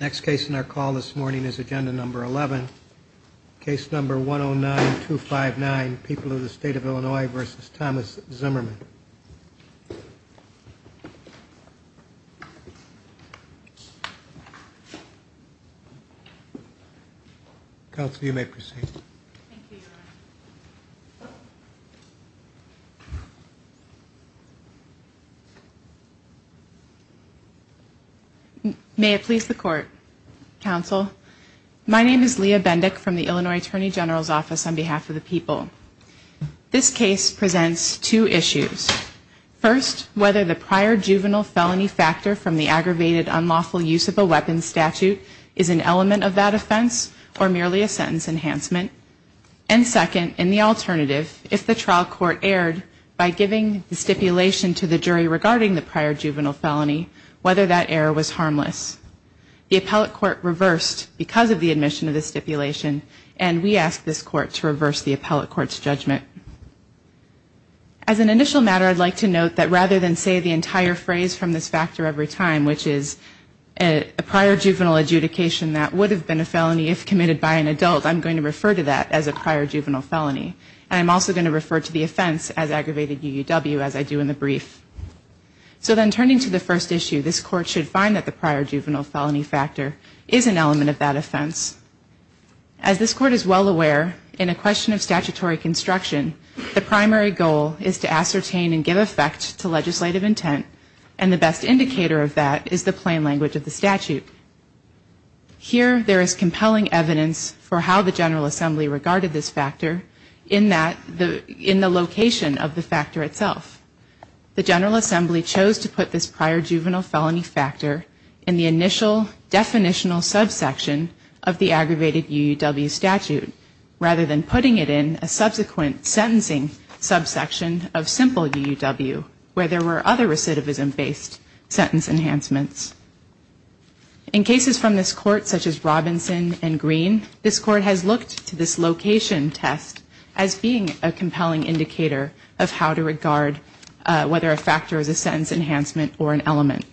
Next case in our call this morning is agenda number 11. Case number 109259 People of the State of Illinois v. Thomas Zimmerman Counsel, you may proceed May it please the Court Counsel, my name is Leah Bendick from the Illinois Attorney General's Office on behalf of the people This case presents two issues First, whether the prior juvenile felony factor from the aggravated unlawful use of a weapons statute is an element of that offense or merely a sentence enhancement And second, in the alternative, if the trial court erred by giving the stipulation to the jury regarding the prior juvenile felony, whether that error was harmless The appellate court reversed because of the admission of the stipulation and we ask this court to reverse the appellate court's judgment As an initial matter, I'd like to note that rather than say the entire phrase from this factor every time which is a prior juvenile adjudication that would have been a felony if committed by an adult I'm going to refer to that as a prior juvenile felony and I'm also going to refer to the offense as aggravated UUW as I do in the brief So then turning to the first issue, this court should find that the prior juvenile felony factor is an element of that offense As this court is well aware, in a question of statutory construction the primary goal is to ascertain and give effect to legislative intent and the best indicator of that is the plain language of the statute Here there is compelling evidence for how the General Assembly regarded this factor in the location of the factor itself The General Assembly chose to put this prior juvenile felony factor in the initial definitional subsection of the aggravated UUW statute rather than putting it in a subsequent sentencing subsection of simple UUW where there were other recidivism based sentence enhancements In cases from this court such as Robinson and Green, this court has looked to this location test as being a compelling indicator of how to regard whether a factor is a sentence enhancement or an element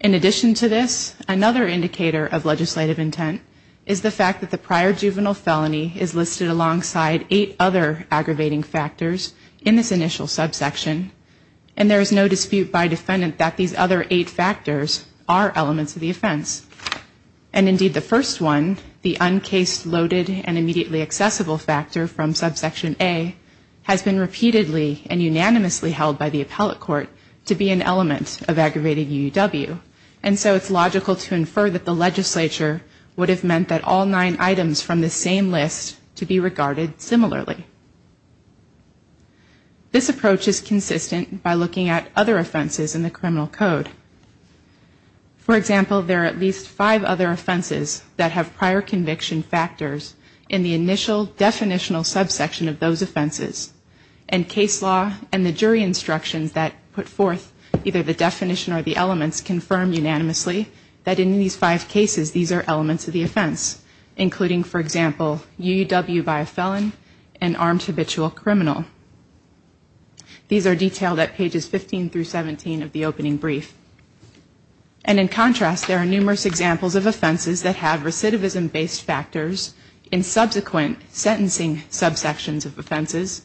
In addition to this, another indicator of legislative intent is the fact that the prior juvenile felony is listed alongside eight other aggravating factors in this initial subsection and there is no dispute by defendant that these other eight factors are elements of the offense and indeed the first one, the uncased, loaded and immediately accessible factor from subsection A has been repeatedly and unanimously held by the appellate court to be an element of aggravated UUW and so it's logical to infer that the legislature would have meant that all nine items from this same list to be regarded similarly This approach is consistent by looking at other offenses in the criminal code For example, there are at least five other offenses that have prior conviction factors in the initial definitional subsection of those offenses and case law and the jury instructions that put forth either the definition or the elements confirm unanimously that in these five cases these are elements of the offense including, for example, UUW by a felon and armed habitual criminal These are detailed at pages 15 through 17 of the opening brief and in contrast there are numerous examples of offenses that have recidivism based factors in subsequent sentencing subsections of offenses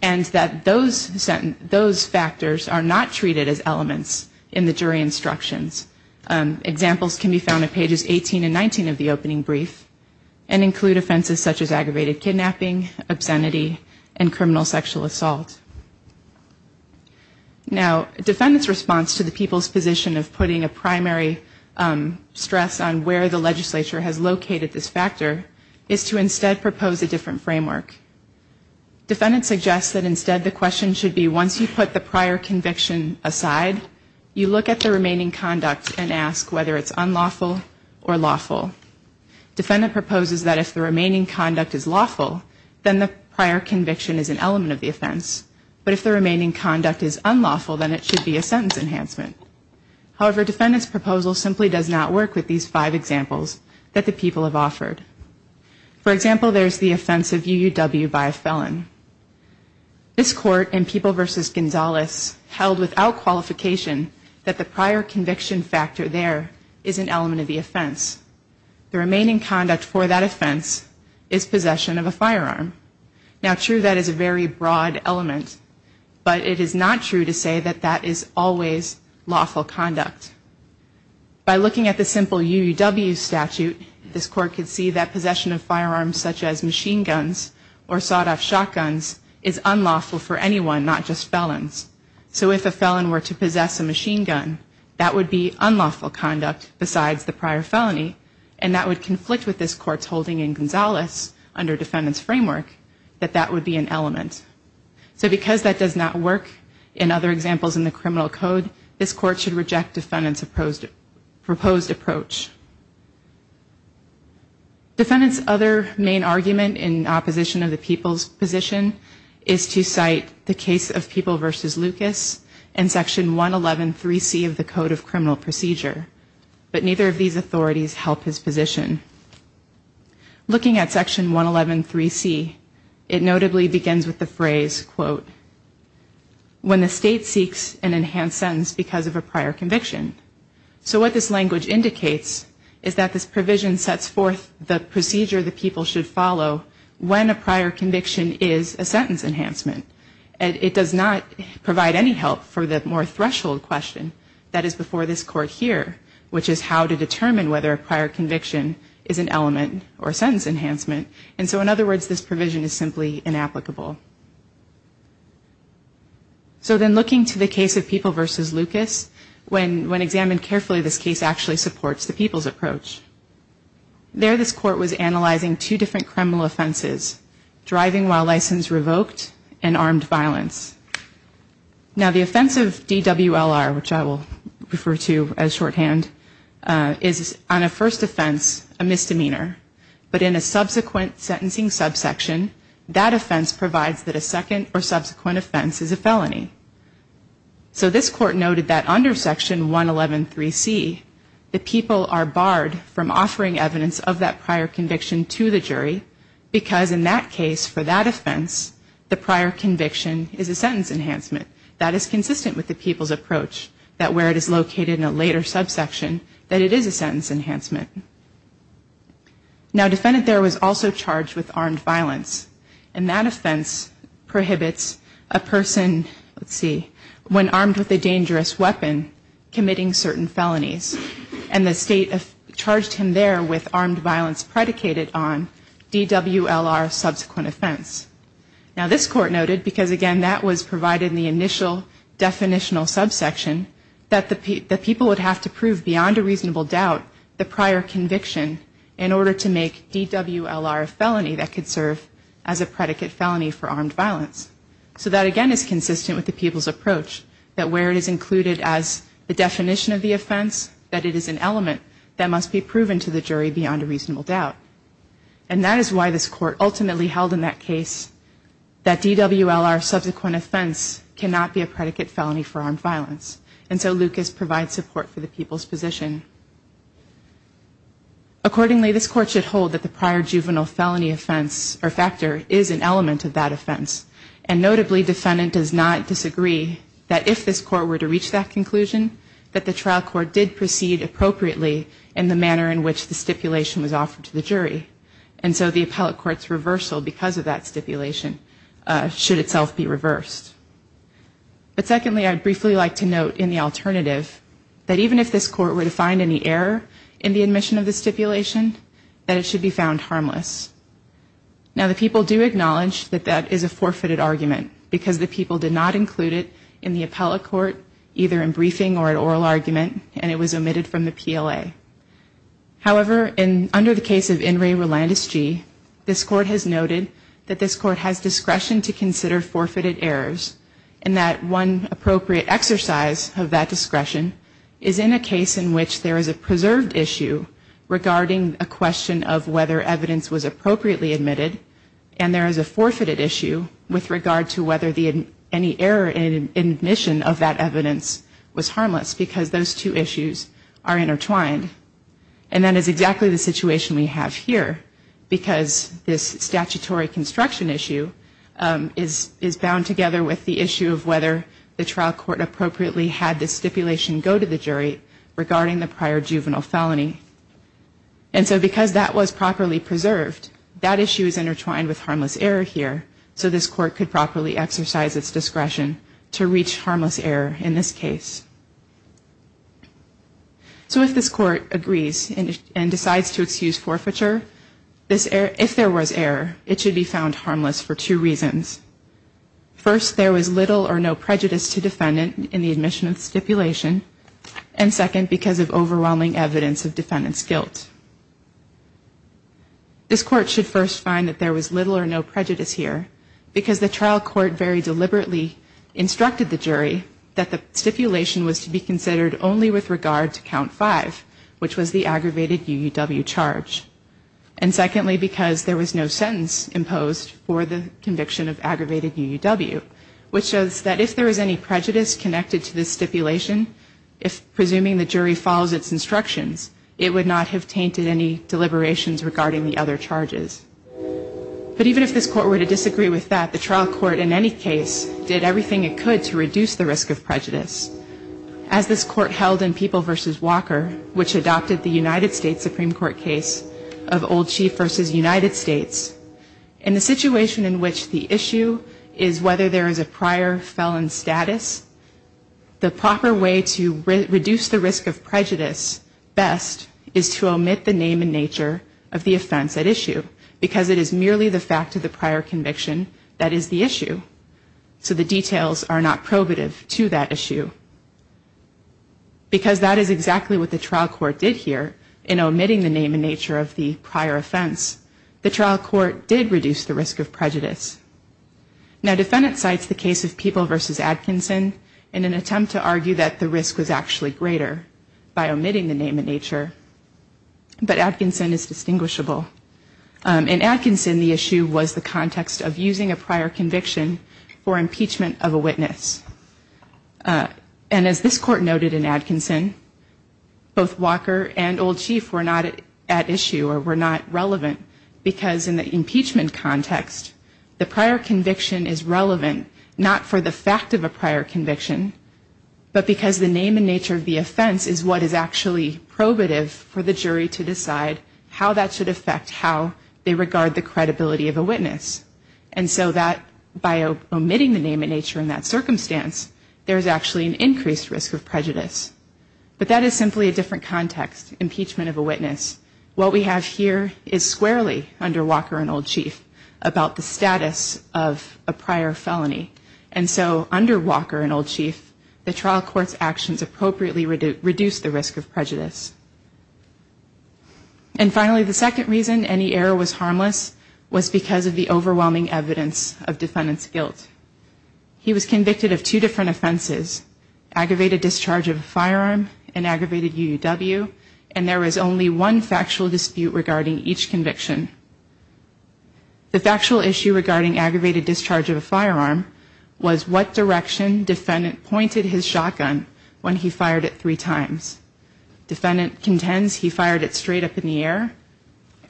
and that those factors are not treated as elements in the jury instructions Examples can be found at pages 18 and 19 of the opening brief and include offenses such as aggravated kidnapping, obscenity and criminal sexual assault Now, defendant's response to the people's position of putting a primary stress on where the legislature has located this factor is to instead propose a different framework Defendant suggests that instead the question should be once you put the prior conviction aside you look at the remaining conduct and ask whether it's unlawful or lawful Defendant proposes that if the remaining conduct is lawful then the prior conviction is an element of the offense but if the remaining conduct is unlawful then it should be a sentence enhancement However, defendant's proposal simply does not work with these five examples that the people have offered For example, there's the offense of UUW by a felon This court in People v. Gonzalez held without qualification that the prior conviction factor there is an element of the offense The remaining conduct for that offense is possession of a firearm Now, true that is a very broad element but it is not true to say that that is always lawful conduct By looking at the simple UUW statute, this court could see that possession of firearms such as machine guns or sawed-off shotguns is unlawful for anyone, not just felons So if a felon were to possess a machine gun, that would be unlawful conduct besides the prior felony and that would conflict with this court's holding in Gonzalez under defendant's framework that that would be an element So because that does not work in other examples in the criminal code this court should reject defendant's proposed approach Defendant's other main argument in opposition of the people's position is to cite the case of People v. Lucas and Section 111.3c of the Code of Criminal Procedure But neither of these authorities help his position Looking at Section 111.3c, it notably begins with the phrase When the state seeks an enhanced sentence because of a prior conviction So what this language indicates is that this provision sets forth the procedure the people should follow when a prior conviction is a sentence enhancement It does not provide any help for the more threshold question that is before this court here which is how to determine whether a prior conviction is an element or sentence enhancement And so in other words, this provision is simply inapplicable So then looking to the case of People v. Lucas, when examined carefully this case actually supports the people's approach There this court was analyzing two different criminal offenses driving while license revoked and armed violence Now the offense of DWLR, which I will refer to as shorthand is on a first offense a misdemeanor, but in a subsequent sentencing subsection that offense provides that a second or subsequent offense is a felony So this court noted that under Section 111.3c the people are barred from offering evidence of that prior conviction to the jury because in that case for that offense the prior conviction is a sentence enhancement That is consistent with the people's approach that where it is located in a later subsection that it is a sentence enhancement Now a defendant there was also charged with armed violence and that offense prohibits a person, let's see, when armed with a dangerous weapon committing certain felonies and the state charged him there with armed violence predicated on DWLR subsequent offense Now this court noted, because again that was provided in the initial definitional subsection that the people would have to prove beyond a reasonable doubt the prior conviction in order to make DWLR a felony that could serve as a predicate felony for armed violence So that again is consistent with the people's approach that where it is included as the definition of the offense that it is an element that must be proven to the jury beyond a reasonable doubt And that is why this court ultimately held in that case that DWLR subsequent offense cannot be a predicate felony for armed violence And so Lucas provides support for the people's position Accordingly this court should hold that the prior juvenile felony offense or factor is an element of that offense And notably defendant does not disagree that if this court were to reach that conclusion that the trial court did proceed appropriately in the manner in which the stipulation was offered to the jury And so the appellate court's reversal because of that stipulation should itself be reversed But secondly I'd briefly like to note in the alternative that even if this court were to find any error in the admission of the stipulation that it should be found harmless. Now the people do acknowledge that that is a forfeited argument because the people did not include it in the appellate court either in briefing or an oral argument and it was omitted from the PLA. However under the case of In re Rolandes G this court has noted that this court has discretion to consider forfeited errors and that one appropriate exercise of that discretion is in a case in which there is a preserved issue regarding a question of whether evidence was appropriately admitted and there is a forfeited issue with regard to whether any error in admission of that evidence was harmless because those two issues are intertwined and that is exactly the situation we have here because this statutory construction issue is bound together with the issue of whether the trial court appropriately had the stipulation go to the jury regarding the prior juvenile felony and so because that was properly preserved that issue is intertwined with harmless error here so this court could properly exercise its discretion to reach harmless error in this case. So if this court agrees and decides to excuse forfeiture if there was error it should be found harmless for two reasons. First there was little or no prejudice to defendant in the admission of the stipulation and second because of overwhelming evidence of defendant's guilt. This court should first find that there was little or no prejudice here because the trial court very deliberately instructed the jury that the stipulation was to be considered only with regard to count five which was the aggravated UUW charge and secondly because there was no sentence imposed for the conviction of aggravated UUW which shows that if there was any prejudice connected to this stipulation if presuming the jury follows its instructions it would not have tainted any deliberations regarding the other charges. But even if this court were to disagree with that the trial court in any case did everything it could to reduce the risk of prejudice. As this court held in People v. Walker which adopted the United States Supreme Court case of Old Chief v. United States in the situation in which the issue is whether there is a prior felon status the proper way to reduce the risk of prejudice best is to omit the name and nature of the offense at issue because it is merely the fact of the prior conviction that is the issue so the details are not probative to that issue. Because that is exactly what the trial court did here in omitting the name and nature of the prior offense the trial court did reduce the risk of prejudice. Now defendant cites the case of People v. Atkinson in an attempt to argue that the risk was actually greater by omitting the name and nature but Atkinson is distinguishable. In Atkinson the issue was the context of using a prior conviction for impeachment of a witness. And as this court noted in Atkinson both Walker and Old Chief were not at issue or were not relevant because in the impeachment context the prior conviction is relevant not for the fact of a prior conviction but because the name and nature of the offense is what is actually probative for the jury to decide how that should affect how they regard the credibility of a witness. And so that by omitting the name and nature in that circumstance there is actually an increased risk of prejudice. But that is simply a different context impeachment of a witness. What we have here is squarely under Walker and Old Chief about the status of a prior felony. And so under Walker and Old Chief the trial court's actions appropriately reduced the risk of prejudice. And finally the second reason any error was harmless was because of the overwhelming evidence of defendant's guilt. He was convicted of two different offenses aggravated discharge of a firearm and aggravated UUW and there was only one factual dispute regarding each conviction. The factual issue regarding aggravated discharge of a firearm was what direction defendant pointed his shotgun when he fired it three times. Defendant contends he fired it straight up in the air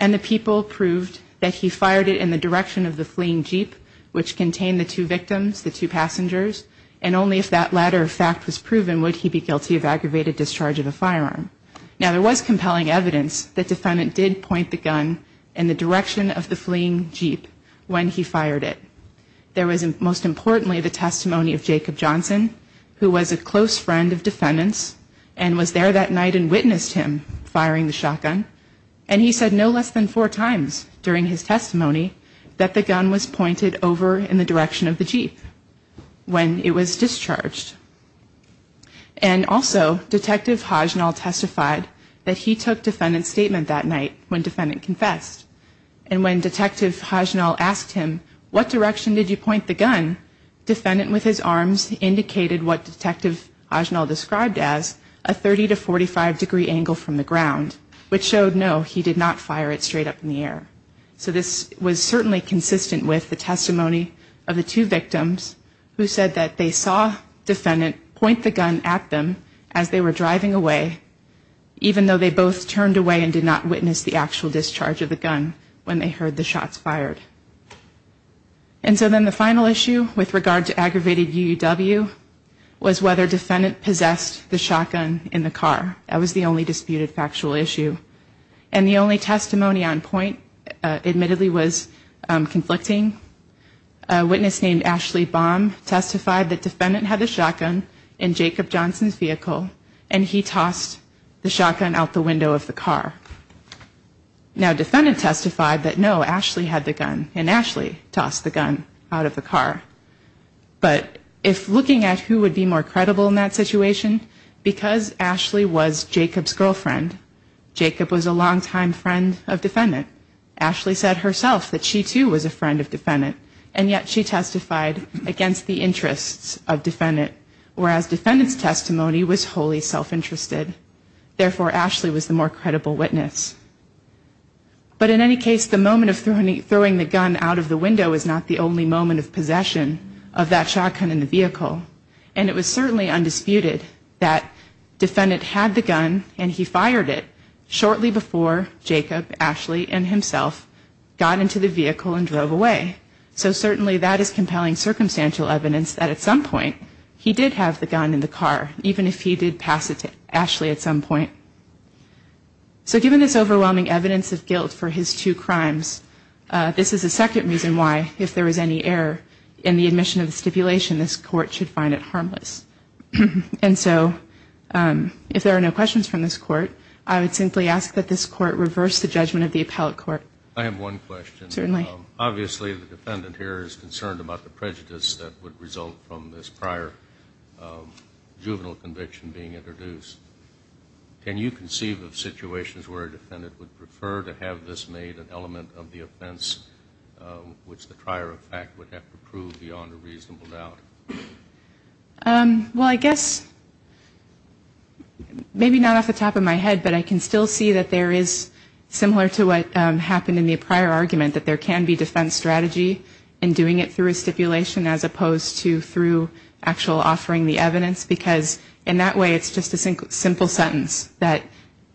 and the people proved that he fired it in the direction of the fleeing Jeep which contained the two victims, the two passengers and only if that latter fact was proven would he be guilty of aggravated discharge of a firearm. Now there was compelling evidence that defendant did point the gun in the direction of the fleeing Jeep when he fired it. There was most importantly the testimony of Jacob Johnson who was a close friend of defendant's and was there that night and witnessed him firing the shotgun and he said no less than four times during his testimony that the gun was pointed over in the direction of the Jeep when it was discharged. And also detective Hajnal testified that he took defendant's statement that night when defendant confessed and when detective Hajnal asked him what direction did you point the gun, defendant with his arms indicated what detective Hajnal described as a 30 to 45 degree angle from the ground which showed no he did not fire it straight up in the air. So this was certainly consistent with the testimony of the two victims who said that they saw defendant point the gun at them as they were driving away even though they both turned away and did not witness the actual discharge of the gun when they heard the shots fired. And so then the final issue with regard to aggravated UUW was whether defendant possessed the shotgun in the car. That was the only disputed factual issue and the only testimony on point admittedly was conflicting. A witness named Ashley Baum testified that defendant had the shotgun in Jacob Johnson's vehicle and he tossed the shotgun out the window of the car. Now defendant testified that no Ashley had the gun and Ashley tossed the gun out of the car. But if looking at who would be more credible in that situation, because Ashley was Jacob's girlfriend, Jacob was a longtime friend of defendant. Ashley said herself that she too was a friend of defendant and yet she testified against the interests of defendant whereas defendant's testimony was wholly self-interested. Therefore Ashley was the more credible witness. But in any case the moment of throwing the gun out of the window is not the only moment of possession of that shotgun in the vehicle. And it was certainly undisputed that defendant had the gun and he fired it shortly before Jacob, Ashley and himself got into the vehicle and drove away. So certainly that is compelling circumstantial evidence that at some point he did have the gun in the car even if he did pass it to Ashley at some point. So given this overwhelming evidence of guilt for his two crimes, this is the second reason why if there is any error in the admission of the stipulation this court should find it harmless. And so if there are no questions from this court I would simply ask that this court reverse the judgment of the appellate court. I have one question. Certainly. Obviously the defendant here is concerned about the prejudice that would result from this prior juvenile conviction being introduced. Can you conceive of situations where a defendant would prefer to have this made an element of the offense which the prior effect would have to prove beyond a reasonable doubt? Well I guess maybe not off the top of my head but I can still see that there is similar to what happened in the prior argument that there can be defense strategy in doing it through a stipulation as opposed to through actual offering the evidence because in that way it's just a simple sentence that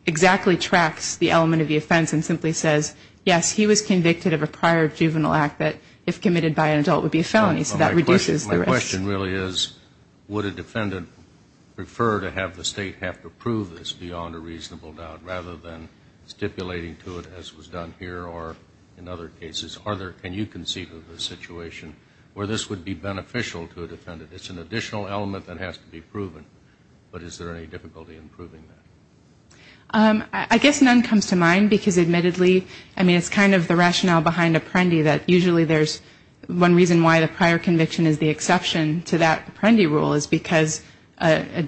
exactly tracks the element of the offense and simply says yes he was convicted of a prior juvenile act that if committed by an adult would be a felony so that reduces the risk. My question really is would a defendant prefer to have the state have to prove this beyond a reasonable doubt rather than stipulating to it as was done here or in other cases? Can you conceive of a situation where this would be beneficial to a defendant? It's an additional element that has to be proven but is there any difficulty in proving that? I guess none comes to mind because admittedly I mean it's kind of the rationale behind Apprendi that usually there's one reason why the prior conviction is the exception to that Apprendi rule is because a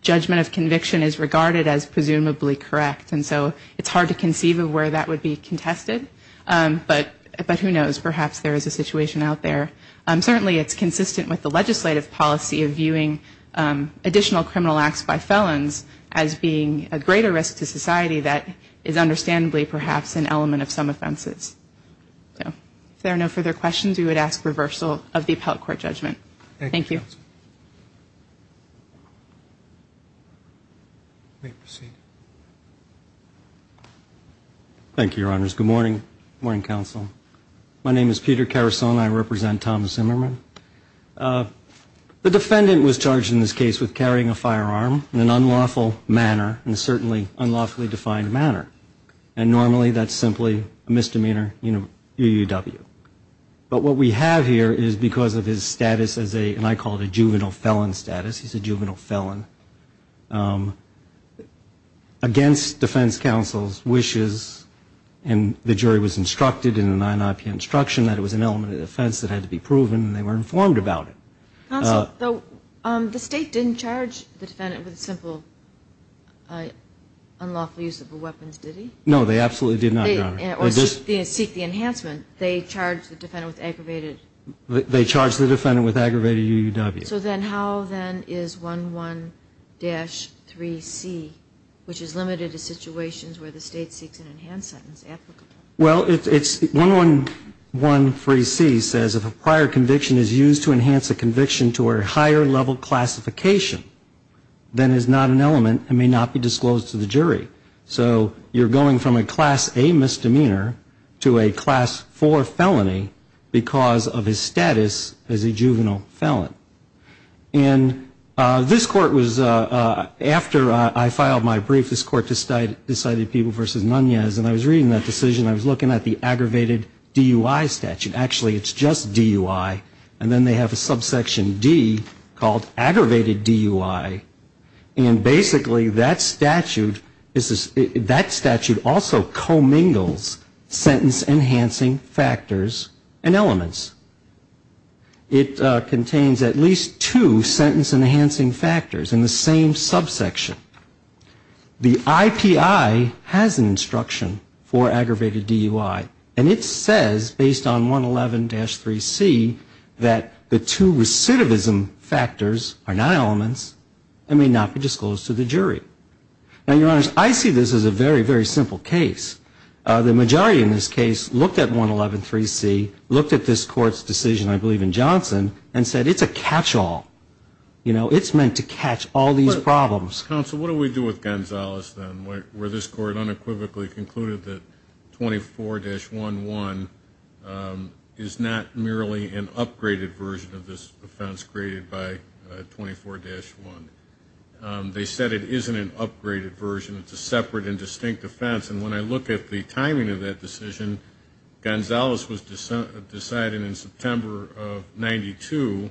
judgment of conviction is regarded as presumably correct and so it's hard to conceive of where that would be contested. But who knows perhaps there is a situation out there. Certainly it's consistent with the legislative policy of viewing additional criminal acts by felons as being a greater risk to society that is understandably perhaps an element of some offenses. If there are no further questions we would ask reversal of the appellate court judgment. Thank you. Let me proceed. Thank you, Your Honors. Good morning. Good morning, Counsel. My name is Peter Carasone and I represent Thomas Emmerman. The defendant was charged in this case with carrying a firearm in an unlawful manner and certainly unlawfully defined manner and normally that's simply a misdemeanor UUW. But what we have here is because of his status as a, and I call it a juvenile felon status, he's a juvenile felon, against defense counsel's wishes and the jury was instructed in the 9-IP instruction that it was an element of defense that had to be proven and they were informed about it. Counsel, the state didn't charge the defendant with a simple unlawful use of a weapon, did he? No, they absolutely did not, Your Honor. They charged the defendant with aggravated UUW. So then how then is 11-3C, which is limited to situations where the state seeks an enhanced sentence, applicable? Well, it's, 11-1-3C says if a prior conviction is used to enhance a conviction to a higher level classification, then it's not an element and may not be disclosed to the jury. So you're going from a Class A misdemeanor to a Class 4 felony because of his status as a juvenile felon. And this court was, after I filed my brief, this court decided Peeble v. Nunez and I was reading that decision. And I was looking at the aggravated DUI statute. Actually, it's just DUI. And then they have a subsection D called aggravated DUI. And basically that statute also commingles sentence-enhancing factors and elements. It contains at least two sentence-enhancing factors in the same subsection. And it says, based on 111-3C, that the two recidivism factors are not elements and may not be disclosed to the jury. Now, Your Honors, I see this as a very, very simple case. The majority in this case looked at 111-3C, looked at this court's decision, I believe in Johnson, and said it's a catch-all. You know, it's meant to catch all these problems. Counsel, what do we do with Gonzales, then, where this court unequivocally concluded that 24-11 is not merely an upgraded version of this offense created by 24-1? They said it isn't an upgraded version. It's a separate and distinct offense. And when I look at the timing of that decision, Gonzales was decided in September of 92,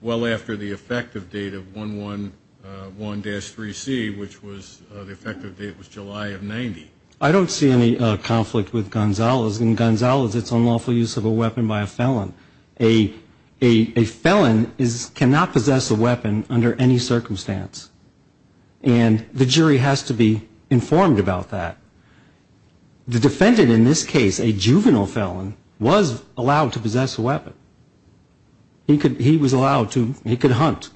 well after the effective date of 111-3C, which was the effective date was July of 90. I don't see any conflict with Gonzales. In Gonzales, it's unlawful use of a weapon by a felon. A felon cannot possess a weapon under any circumstance. And the jury has to be informed about that. The defendant in this case, a juvenile felon, was allowed to possess a weapon. He was allowed to, he could hunt.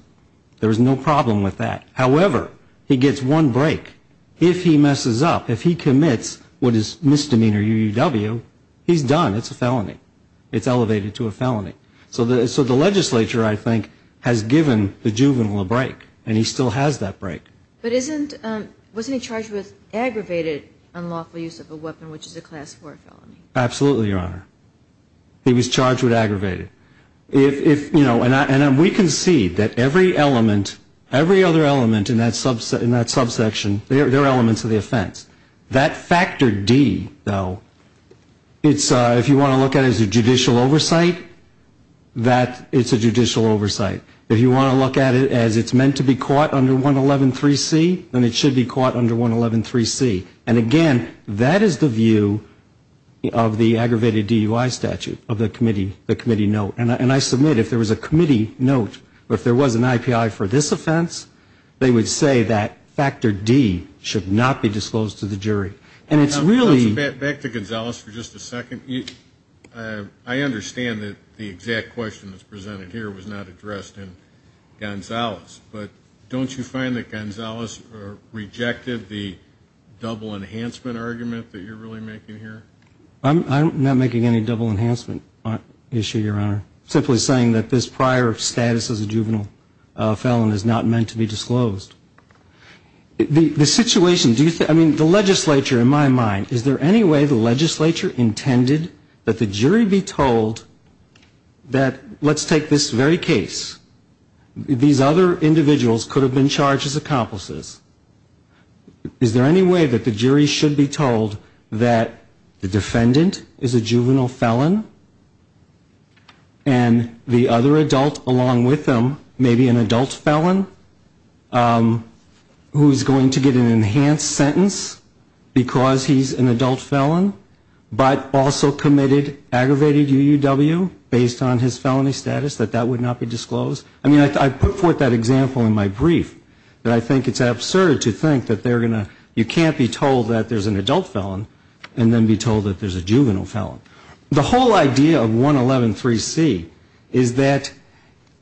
There was no problem with that. However, he gets one break. If he messes up, if he commits what is misdemeanor UUW, he's done. It's a felony. It's elevated to a felony. So the legislature, I think, has given the juvenile a break, and he still has that break. But wasn't he charged with aggravated unlawful use of a weapon, which is a Class 4 felony? Absolutely, Your Honor. He was charged with aggravated. And we concede that every other element in that subsection, they're elements of the offense. That Factor D, though, if you want to look at it as a judicial oversight, it's a judicial oversight. If you want to look at it as it's meant to be caught under 111.3c, then it should be caught under 111.3c. And, again, that is the view of the aggravated DUI statute of the committee note. And I submit if there was a committee note or if there was an IPI for this offense, they would say that Factor D should not be disclosed to the jury. Back to Gonzalez for just a second. I understand that the exact question that's presented here was not addressed in Gonzalez. But don't you find that Gonzalez rejected the double enhancement argument that you're really making here? I'm not making any double enhancement issue, Your Honor. Simply saying that this prior status as a juvenile felon is not meant to be disclosed. The situation, do you think, I mean, the legislature in my mind, is there any way the legislature intended that the jury be told that let's take this very case. These other individuals could have been charged as accomplices. Is there any way that the jury should be told that the defendant is a juvenile felon and the other adult along with them may be an adult felon who's going to get an enhanced sentence because he's an adult felon, but also committed aggravated UUW based on his felony status, that that would not be disclosed? I mean, I put forth that example in my brief, that I think it's absurd to think that they're going to, you can't be told that there's an adult felon and then be told that there's a juvenile felon. The whole idea of 111.3c is that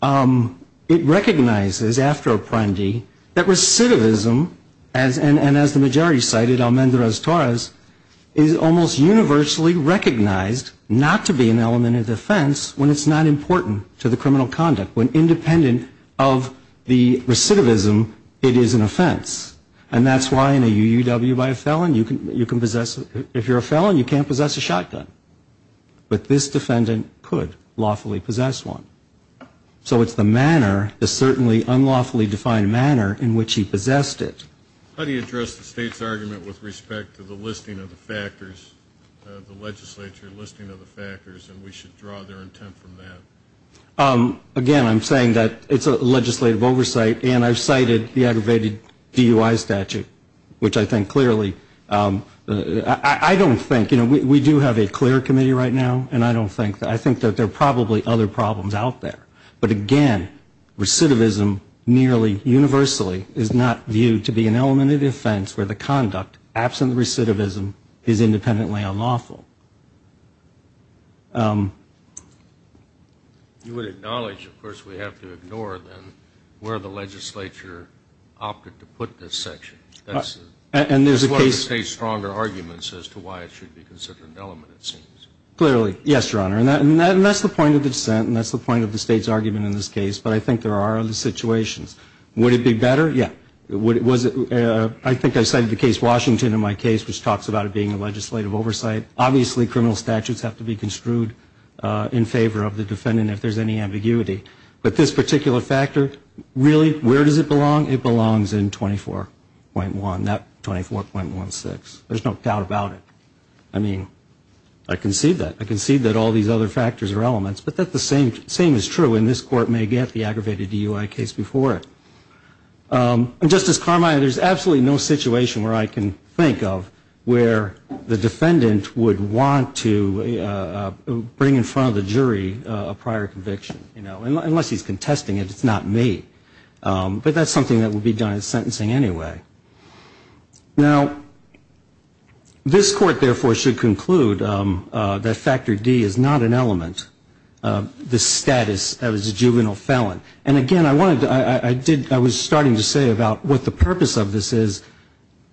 it recognizes after Apprendi that recidivism, and as the majority cited, Almendrez-Torres, is almost universally recognized not to be an element of defense when it's not important to the criminal conduct. When independent of the recidivism, it is an offense. And that's why in a UUW by a felon, you can possess, if you're a felon, you can't possess a shotgun. But this defendant could lawfully possess one. So it's the manner, the certainly unlawfully defined manner in which he possessed it. How do you address the state's argument with respect to the listing of the factors, the legislature listing of the factors, and we should draw their intent from that? Again, I'm saying that it's a legislative oversight, and I've cited the aggravated DUI statute, which I think clearly, I don't think, you know, we do have a clear committee right now, and I don't think, I think that there are probably other problems out there. But again, recidivism nearly universally is not viewed to be an element of defense where the conduct, absent the recidivism, is independently unlawful. You would acknowledge, of course, we have to ignore then where the legislature opted to put this section. That's one of the state's stronger arguments as to why it should be considered an element, it seems. Clearly, yes, Your Honor. And that's the point of the dissent, and that's the point of the state's argument in this case. But I think there are other situations. Would it be better? Yeah. I think I cited the case Washington in my case, which talks about it being a legislative oversight. Obviously, criminal statutes have to be construed in favor of the defendant if there's any ambiguity. But this particular factor, really, where does it belong? It belongs in 24.1, not 24.16. There's no doubt about it. I mean, I concede that. I concede that all these other factors are elements. But that's the same as true, and this Court may get the aggravated DUI case before it. Justice Carmine, there's absolutely no situation where I can think of where the defendant would want to bring in front of the jury a prior conviction. You know, unless he's contesting it, it's not me. But that's something that would be done in sentencing anyway. Now, this Court, therefore, should conclude that Factor D is not an element of the status of a juvenile felon. And, again, I wanted to – I did – I was starting to say about what the purpose of this is.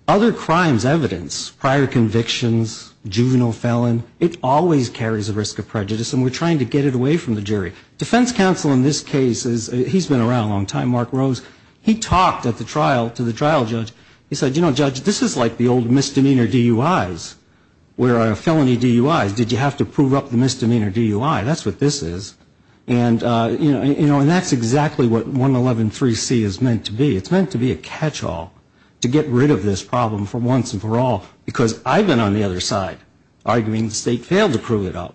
Other crimes' evidence, prior convictions, juvenile felon, it always carries a risk of prejudice, and we're trying to get it away from the jury. Defense counsel in this case is – he's been around a long time, Mark Rose. He talked at the trial to the trial judge. He said, you know, Judge, this is like the old misdemeanor DUIs, where a felony DUI, did you have to prove up the misdemeanor DUI? That's what this is. And, you know, and that's exactly what 111.3c is meant to be. It's meant to be a catch-all to get rid of this problem for once and for all, because I've been on the other side, arguing the State failed to prove it up.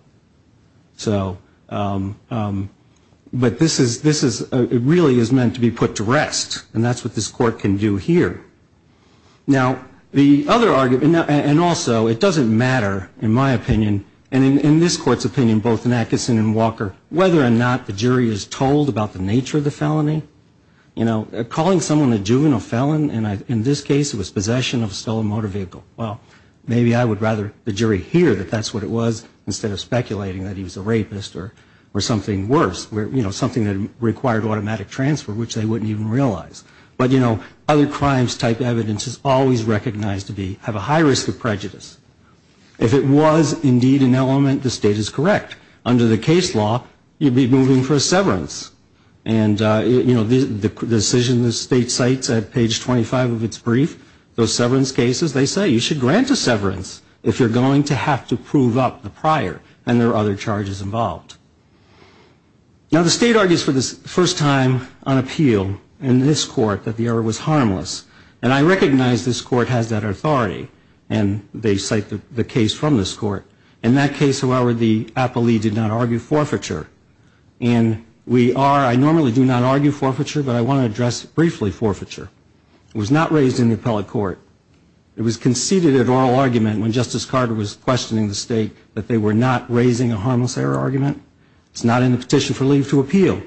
So – but this is – it really is meant to be put to rest. And that's what this Court can do here. Now, the other argument – and also, it doesn't matter, in my opinion, and in this Court's opinion, both in Atkinson and Walker, whether or not the jury is told about the nature of the felony. You know, calling someone a juvenile felon, and in this case it was possession of a stolen motor vehicle. Well, maybe I would rather the jury hear that that's what it was, instead of speculating that he was a rapist or something worse. You know, something that required automatic transfer, which they wouldn't even realize. But, you know, other crimes-type evidence is always recognized to be – have a high risk of prejudice. If it was indeed an element, the State is correct. Under the case law, you'd be moving for a severance. And, you know, the decision the State cites at page 25 of its brief, those severance cases, they say you should grant a severance if you're going to have to prove up the prior and there are other charges involved. Now, the State argues for the first time on appeal in this Court that the error was harmless. And I recognize this Court has that authority, and they cite the case from this Court. In that case, however, the appellee did not argue forfeiture. And we are – I normally do not argue forfeiture, but I want to address briefly forfeiture. It was not raised in the appellate court. It was conceded at oral argument when Justice Carter was questioning the State that they were not raising a harmless error argument. It's not in the petition for leave to appeal.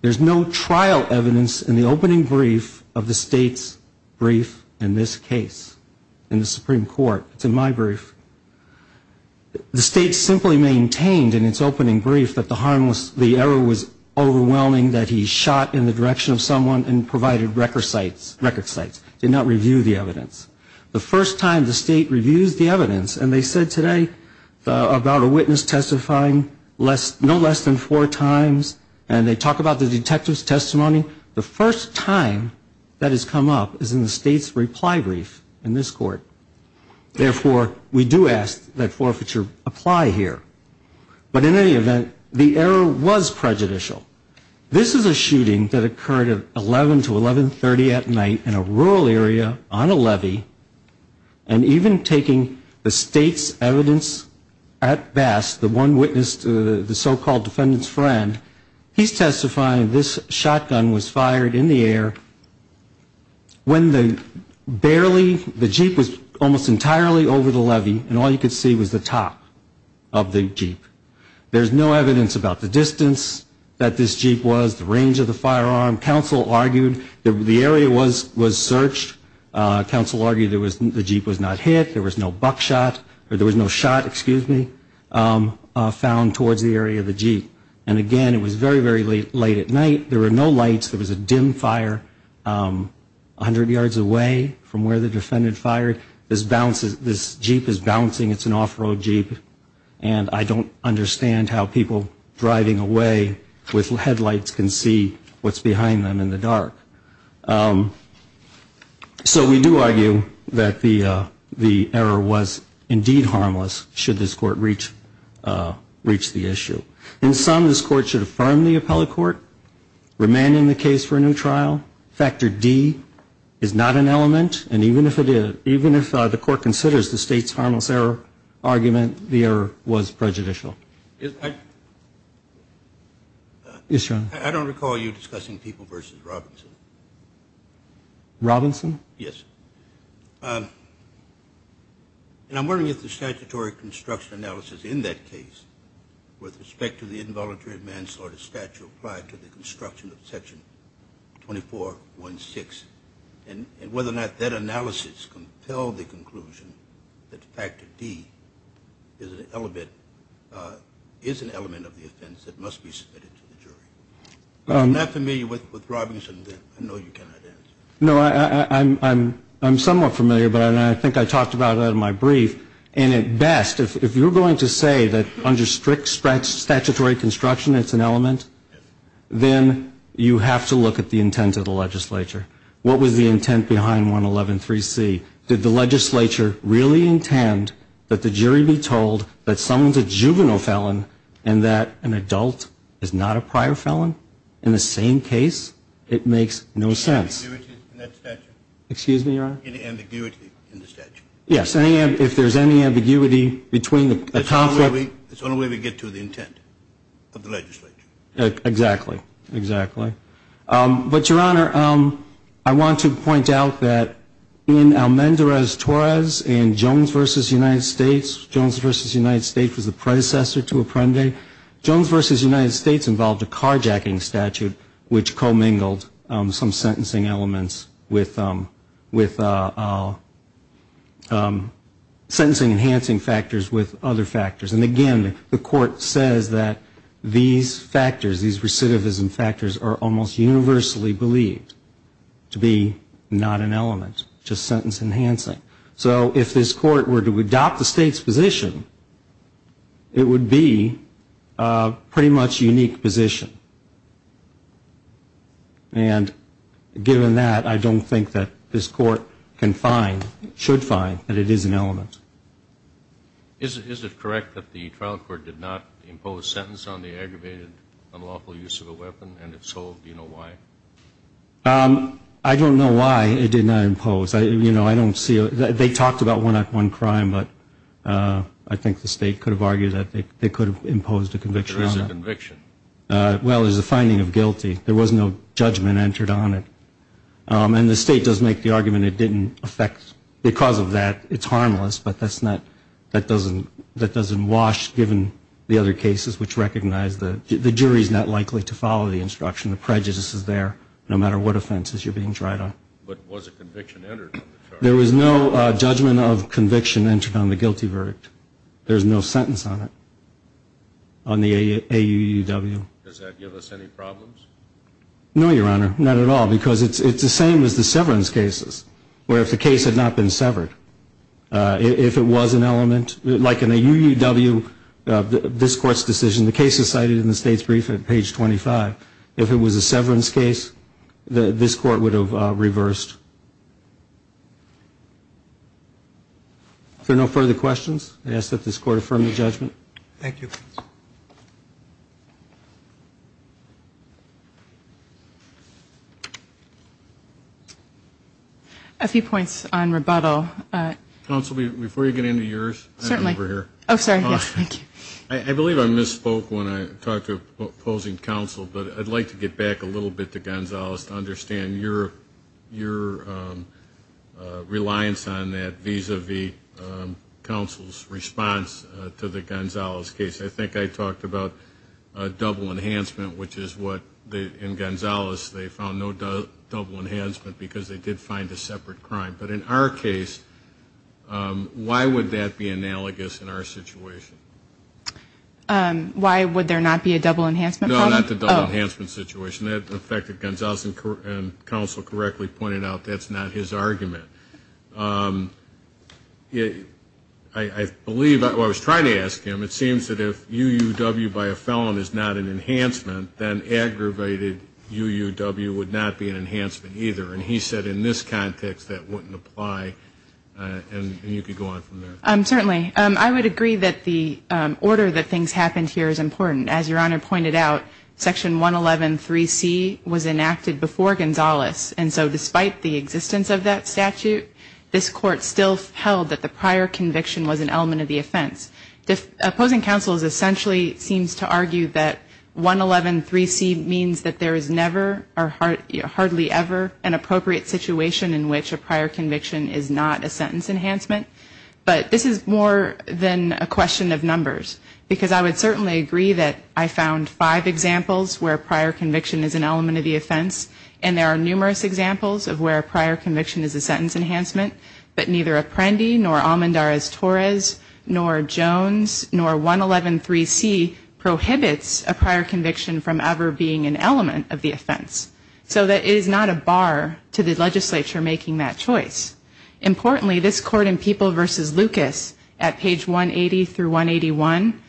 There's no trial evidence in the opening brief of the State's brief in this case in the Supreme Court. It's in my brief. The State simply maintained in its opening brief that the harmless – the error was overwhelming, that he shot in the direction of someone and provided record sites – record sites. Did not review the evidence. The first time the State reviews the evidence, and they said today about a witness testifying less – no less than four times, and they talk about the detective's testimony, the first time that has come up is in the State's reply brief in this Court. Therefore, we do ask that forfeiture apply here. But in any event, the error was prejudicial. This is a shooting that occurred at 11 to 1130 at night in a rural area on a levee, and even taking the State's evidence at best, the one witness to the so-called defendant's friend, he's testifying this shotgun was fired in the air when the barely – almost entirely over the levee, and all you could see was the top of the jeep. There's no evidence about the distance that this jeep was, the range of the firearm. Counsel argued that the area was searched. Counsel argued there was – the jeep was not hit. There was no buckshot – or there was no shot, excuse me, found towards the area of the jeep. And again, it was very, very late at night. There were no lights. There was a dim fire 100 yards away from where the defendant fired. This jeep is bouncing. It's an off-road jeep. And I don't understand how people driving away with headlights can see what's behind them in the dark. So we do argue that the error was indeed harmless should this Court reach the issue. In sum, this Court should affirm the appellate court, remain in the case for a new trial. Factor D is not an element. And even if the Court considers the state's harmless error argument, the error was prejudicial. Yes, Your Honor. I don't recall you discussing people versus Robinson. Robinson? Yes. And I'm wondering if the statutory construction analysis in that case, with respect to the involuntary manslaughter statute applied to the construction of Section 2416, and whether or not that analysis compelled the conclusion that Factor D is an element of the offense that must be submitted to the jury. I'm not familiar with Robinson. I know you cannot answer. No, I'm somewhat familiar, but I think I talked about it in my brief. And at best, if you're going to say that under strict statutory construction it's an element, then you have to look at the intent of the legislature. What was the intent behind 111.3c? Did the legislature really intend that the jury be told that someone's a juvenile felon and that an adult is not a prior felon? In the same case, it makes no sense. Any ambiguity in that statute? Excuse me, Your Honor? Any ambiguity in the statute? Yes, if there's any ambiguity between the conflict. It's the only way we get to the intent of the legislature. Exactly. Exactly. But, Your Honor, I want to point out that in Almendarez-Torres and Jones v. United States, Jones v. United States was the predecessor to Apprendi. Jones v. United States involved a carjacking statute, which co-mingled some sentencing enhancing factors with other factors. And, again, the court says that these factors, these recidivism factors, are almost universally believed to be not an element, just sentence enhancing. So if this court were to adopt the state's position, it would be a pretty much unique position. And given that, I don't think that this court can find, should find, that it is an element. Is it correct that the trial court did not impose sentence on the aggravated, unlawful use of a weapon, and if so, do you know why? I don't know why it did not impose. You know, I don't see it. They talked about one-on-one crime, but I think the state could have argued that they could have imposed a conviction on it. There is a conviction. Well, there's a finding of guilty. There was no judgment entered on it. And the state does make the argument it didn't affect. Because of that, it's harmless, but that doesn't wash, given the other cases, which recognize the jury is not likely to follow the instruction. The prejudice is there, no matter what offenses you're being tried on. But was a conviction entered on the charge? There was no judgment of conviction entered on the guilty verdict. There's no sentence on it, on the AUUW. Does that give us any problems? No, Your Honor, not at all, because it's the same as the severance cases, where if the case had not been severed, if it was an element, like an AUUW, this court's decision, the case is cited in the state's brief at page 25. If it was a severance case, this court would have reversed. If there are no further questions, I ask that this court affirm the judgment. Thank you. A few points on rebuttal. Counsel, before you get into yours, I'm over here. Certainly. Oh, sorry. Yes, thank you. I believe I misspoke when I talked to opposing counsel, but I'd like to get back a little bit to Gonzalez to understand your reliance on that vis-a-vis counsel's response to the Gonzalez case. I think I talked about double enhancement, which is what, in Gonzalez, they found no double enhancement because they did find a separate crime. But in our case, why would that be analogous in our situation? Why would there not be a double enhancement? No, not the double enhancement situation. The fact that Gonzalez and counsel correctly pointed out, that's not his argument. I believe, well, I was trying to ask him, it seems that if UUW by a felon is not an enhancement, then aggravated UUW would not be an enhancement either. And he said in this context that wouldn't apply. And you could go on from there. Certainly. I would agree that the order that things happened here is important. As Your Honor pointed out, Section 111.3c was enacted before Gonzalez. And so despite the existence of that statute, this Court still held that the prior conviction was an element of the offense. Opposing counsel essentially seems to argue that 111.3c means that there is never or hardly ever an appropriate situation in which a prior conviction is not a sentence enhancement. But this is more than a question of numbers. Because I would certainly agree that I found five examples where prior conviction is an element of the offense. And there are numerous examples of where prior conviction is a sentence enhancement. But neither Apprendi nor Almendarez-Torres nor Jones nor 111.3c prohibits a prior conviction from ever being an element of the offense. So it is not a bar to the legislature making that choice. Importantly, this Court in People v. Lucas at page 180 through 181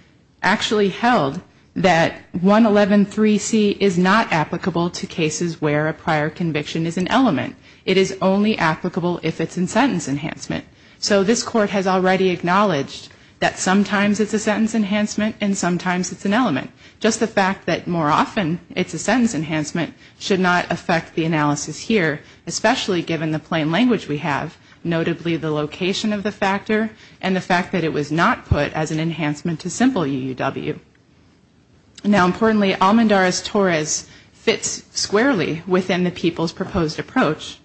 actually held that 111.3c is not applicable to cases where a prior conviction is an element. It is only applicable if it's in sentence enhancement. So this Court has already acknowledged that sometimes it's a sentence enhancement and sometimes it's an element. Just the fact that more often it's a sentence enhancement should not affect the analysis here, especially given the plain language we have, notably the location of the factor and the fact that it was not put as an enhancement to simple UUW. Now importantly, Almendarez-Torres fits squarely within the People's proposed approach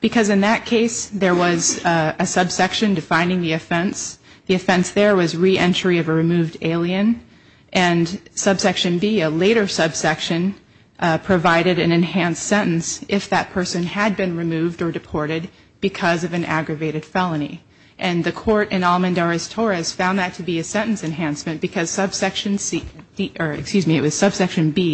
because in that case there was a subsection defining the offense. The offense there was reentry of a removed alien. And subsection B, a later subsection, provided an enhanced sentence if that person had been removed or deported because of an aggravated felony. And the Court in Almendarez-Torres found that to be a sentence enhancement because subsection B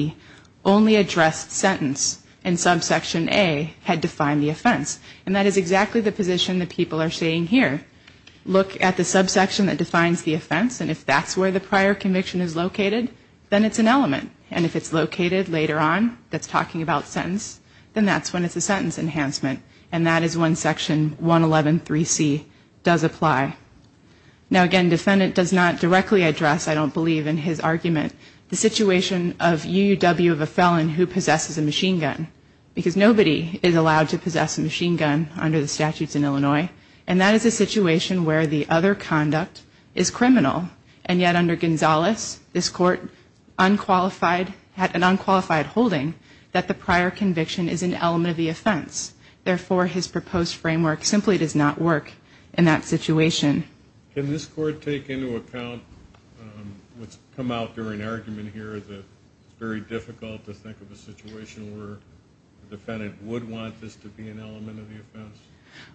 only addressed sentence and subsection A had defined the offense. And that is exactly the position that people are seeing here. Look at the subsection that defines the offense. And if that's where the prior conviction is located, then it's an element. And if it's located later on, that's talking about sentence, then that's when it's a sentence enhancement. And that is when Section 111.3c does apply. Now again, defendant does not directly address, I don't believe, in his argument, the situation of UUW of a felon who possesses a machine gun because nobody is allowed to possess a machine gun under the statutes in Illinois. And that is a situation where the other conduct is criminal. And yet under Gonzales, this Court had an unqualified holding that the prior conviction is an element of the offense. Therefore, his proposed framework simply does not work in that situation. Can this Court take into account what's come out during argument here that it's very difficult to think of a situation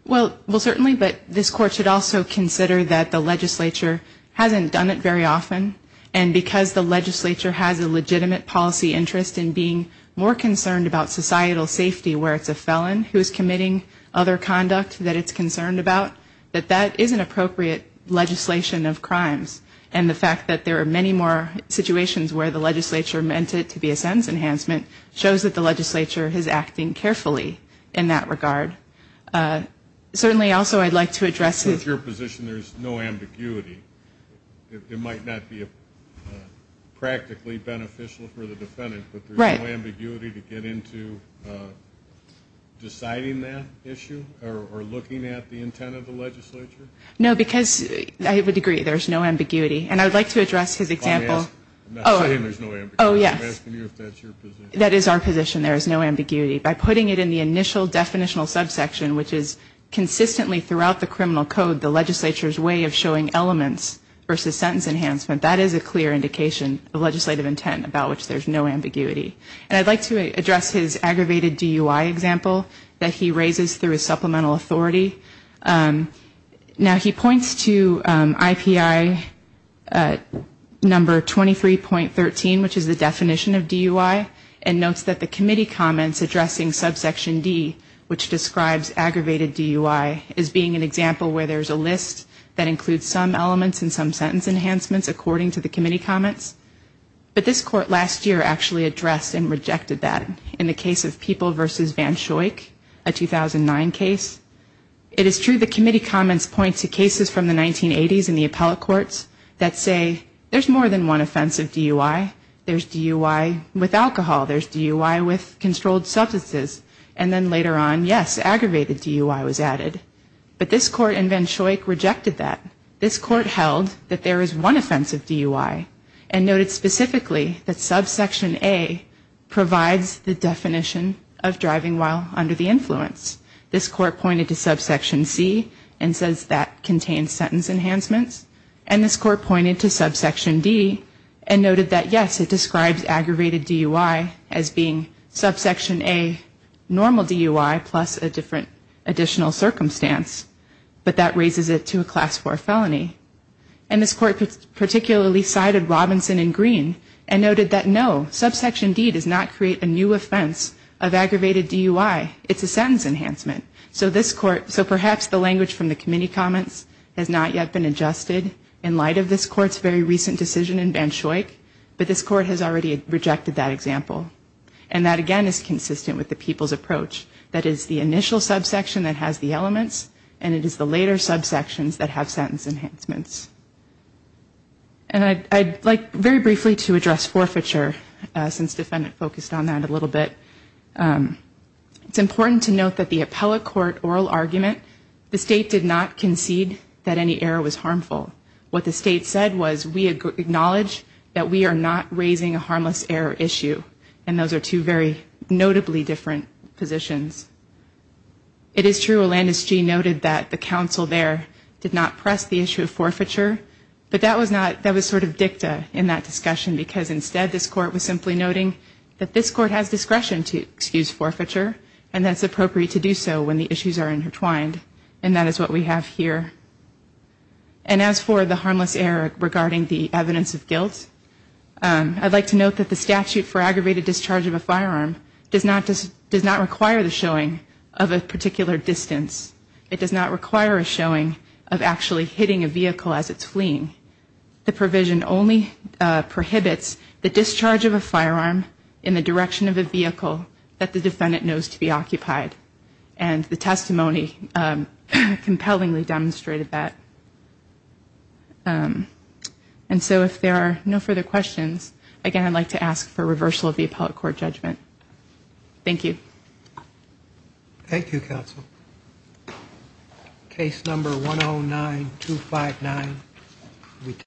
Well, certainly, but this Court should also consider that the legislature hasn't done it very often. And because the legislature has a legitimate policy interest in being more concerned about societal safety where it's a felon who is committing other conduct that it's concerned about, that that is an appropriate legislation of crimes. And the fact that there are many more situations where the legislature meant it to be a sentence enhancement shows that the legislature is acting carefully in that regard. Certainly, also, I'd like to address With your position, there's no ambiguity. It might not be practically beneficial for the defendant, but there's no ambiguity to get into deciding that issue or looking at the intent of the legislature? No, because I would agree there's no ambiguity. And I would like to address his example I'm not saying there's no ambiguity. I'm asking you if that's your position. That is our position, there is no ambiguity. By putting it in the initial definitional subsection, which is consistently throughout the criminal code, the legislature's way of showing elements versus sentence enhancement, that is a clear indication of legislative intent, about which there's no ambiguity. And I'd like to address his aggravated DUI example that he raises through his supplemental authority. Now, he points to IPI number 23.13, which is the definition of DUI, and notes that the committee comments addressing subsection D, which describes aggravated DUI, as being an example where there's a list that includes some elements and some sentence enhancements, according to the committee comments. But this court last year actually addressed and rejected that in the case of People v. Van Schoik, a 2009 case. It is true the committee comments point to cases from the 1980s in the appellate courts that say there's more than one offense of DUI. There's DUI with alcohol. There's DUI with controlled substances. And then later on, yes, aggravated DUI was added. But this court in Van Schoik rejected that. This court held that there is one offense of DUI, and noted specifically that subsection A provides the definition of driving while under the influence. This court pointed to subsection C and says that contains sentence enhancements. And this court pointed to subsection D and noted that, yes, it describes aggravated DUI as being subsection A, normal DUI, plus a different additional circumstance. But that raises it to a class 4 felony. And this court particularly cited Robinson and Green and noted that, no, subsection D does not create a new offense of aggravated DUI. It's a sentence enhancement. So perhaps the language from the committee comments has not yet been adjusted in light of this court's very recent decision in Van Schoik, but this court has already rejected that example. And that, again, is consistent with the people's approach. That is the initial subsection that has the elements, and it is the later subsections that have sentence enhancements. And I'd like very briefly to address forfeiture, since the defendant focused on that a little bit. It's important to note that the appellate court oral argument, the state did not concede that any error was harmful. What the state said was, we acknowledge that we are not raising a harmless error issue. And those are two very notably different positions. It is true, Olandis G noted that the counsel there did not press the issue of forfeiture, but that was sort of dicta in that discussion because, instead, this court was simply noting that this court has discretion to excuse forfeiture and that it's appropriate to do so when the issues are intertwined. And that is what we have here. And as for the harmless error regarding the evidence of guilt, I'd like to note that the statute for aggravated discharge of a firearm does not require the showing of a particular distance. It does not require a showing of actually hitting a vehicle as it's fleeing. The provision only prohibits the discharge of a firearm in the direction of a vehicle that the defendant knows to be occupied. And the testimony compellingly demonstrated that. And so if there are no further questions, again, I'd like to ask for reversal of the appellate court judgment. Thank you. Thank you, counsel. Case number 109259.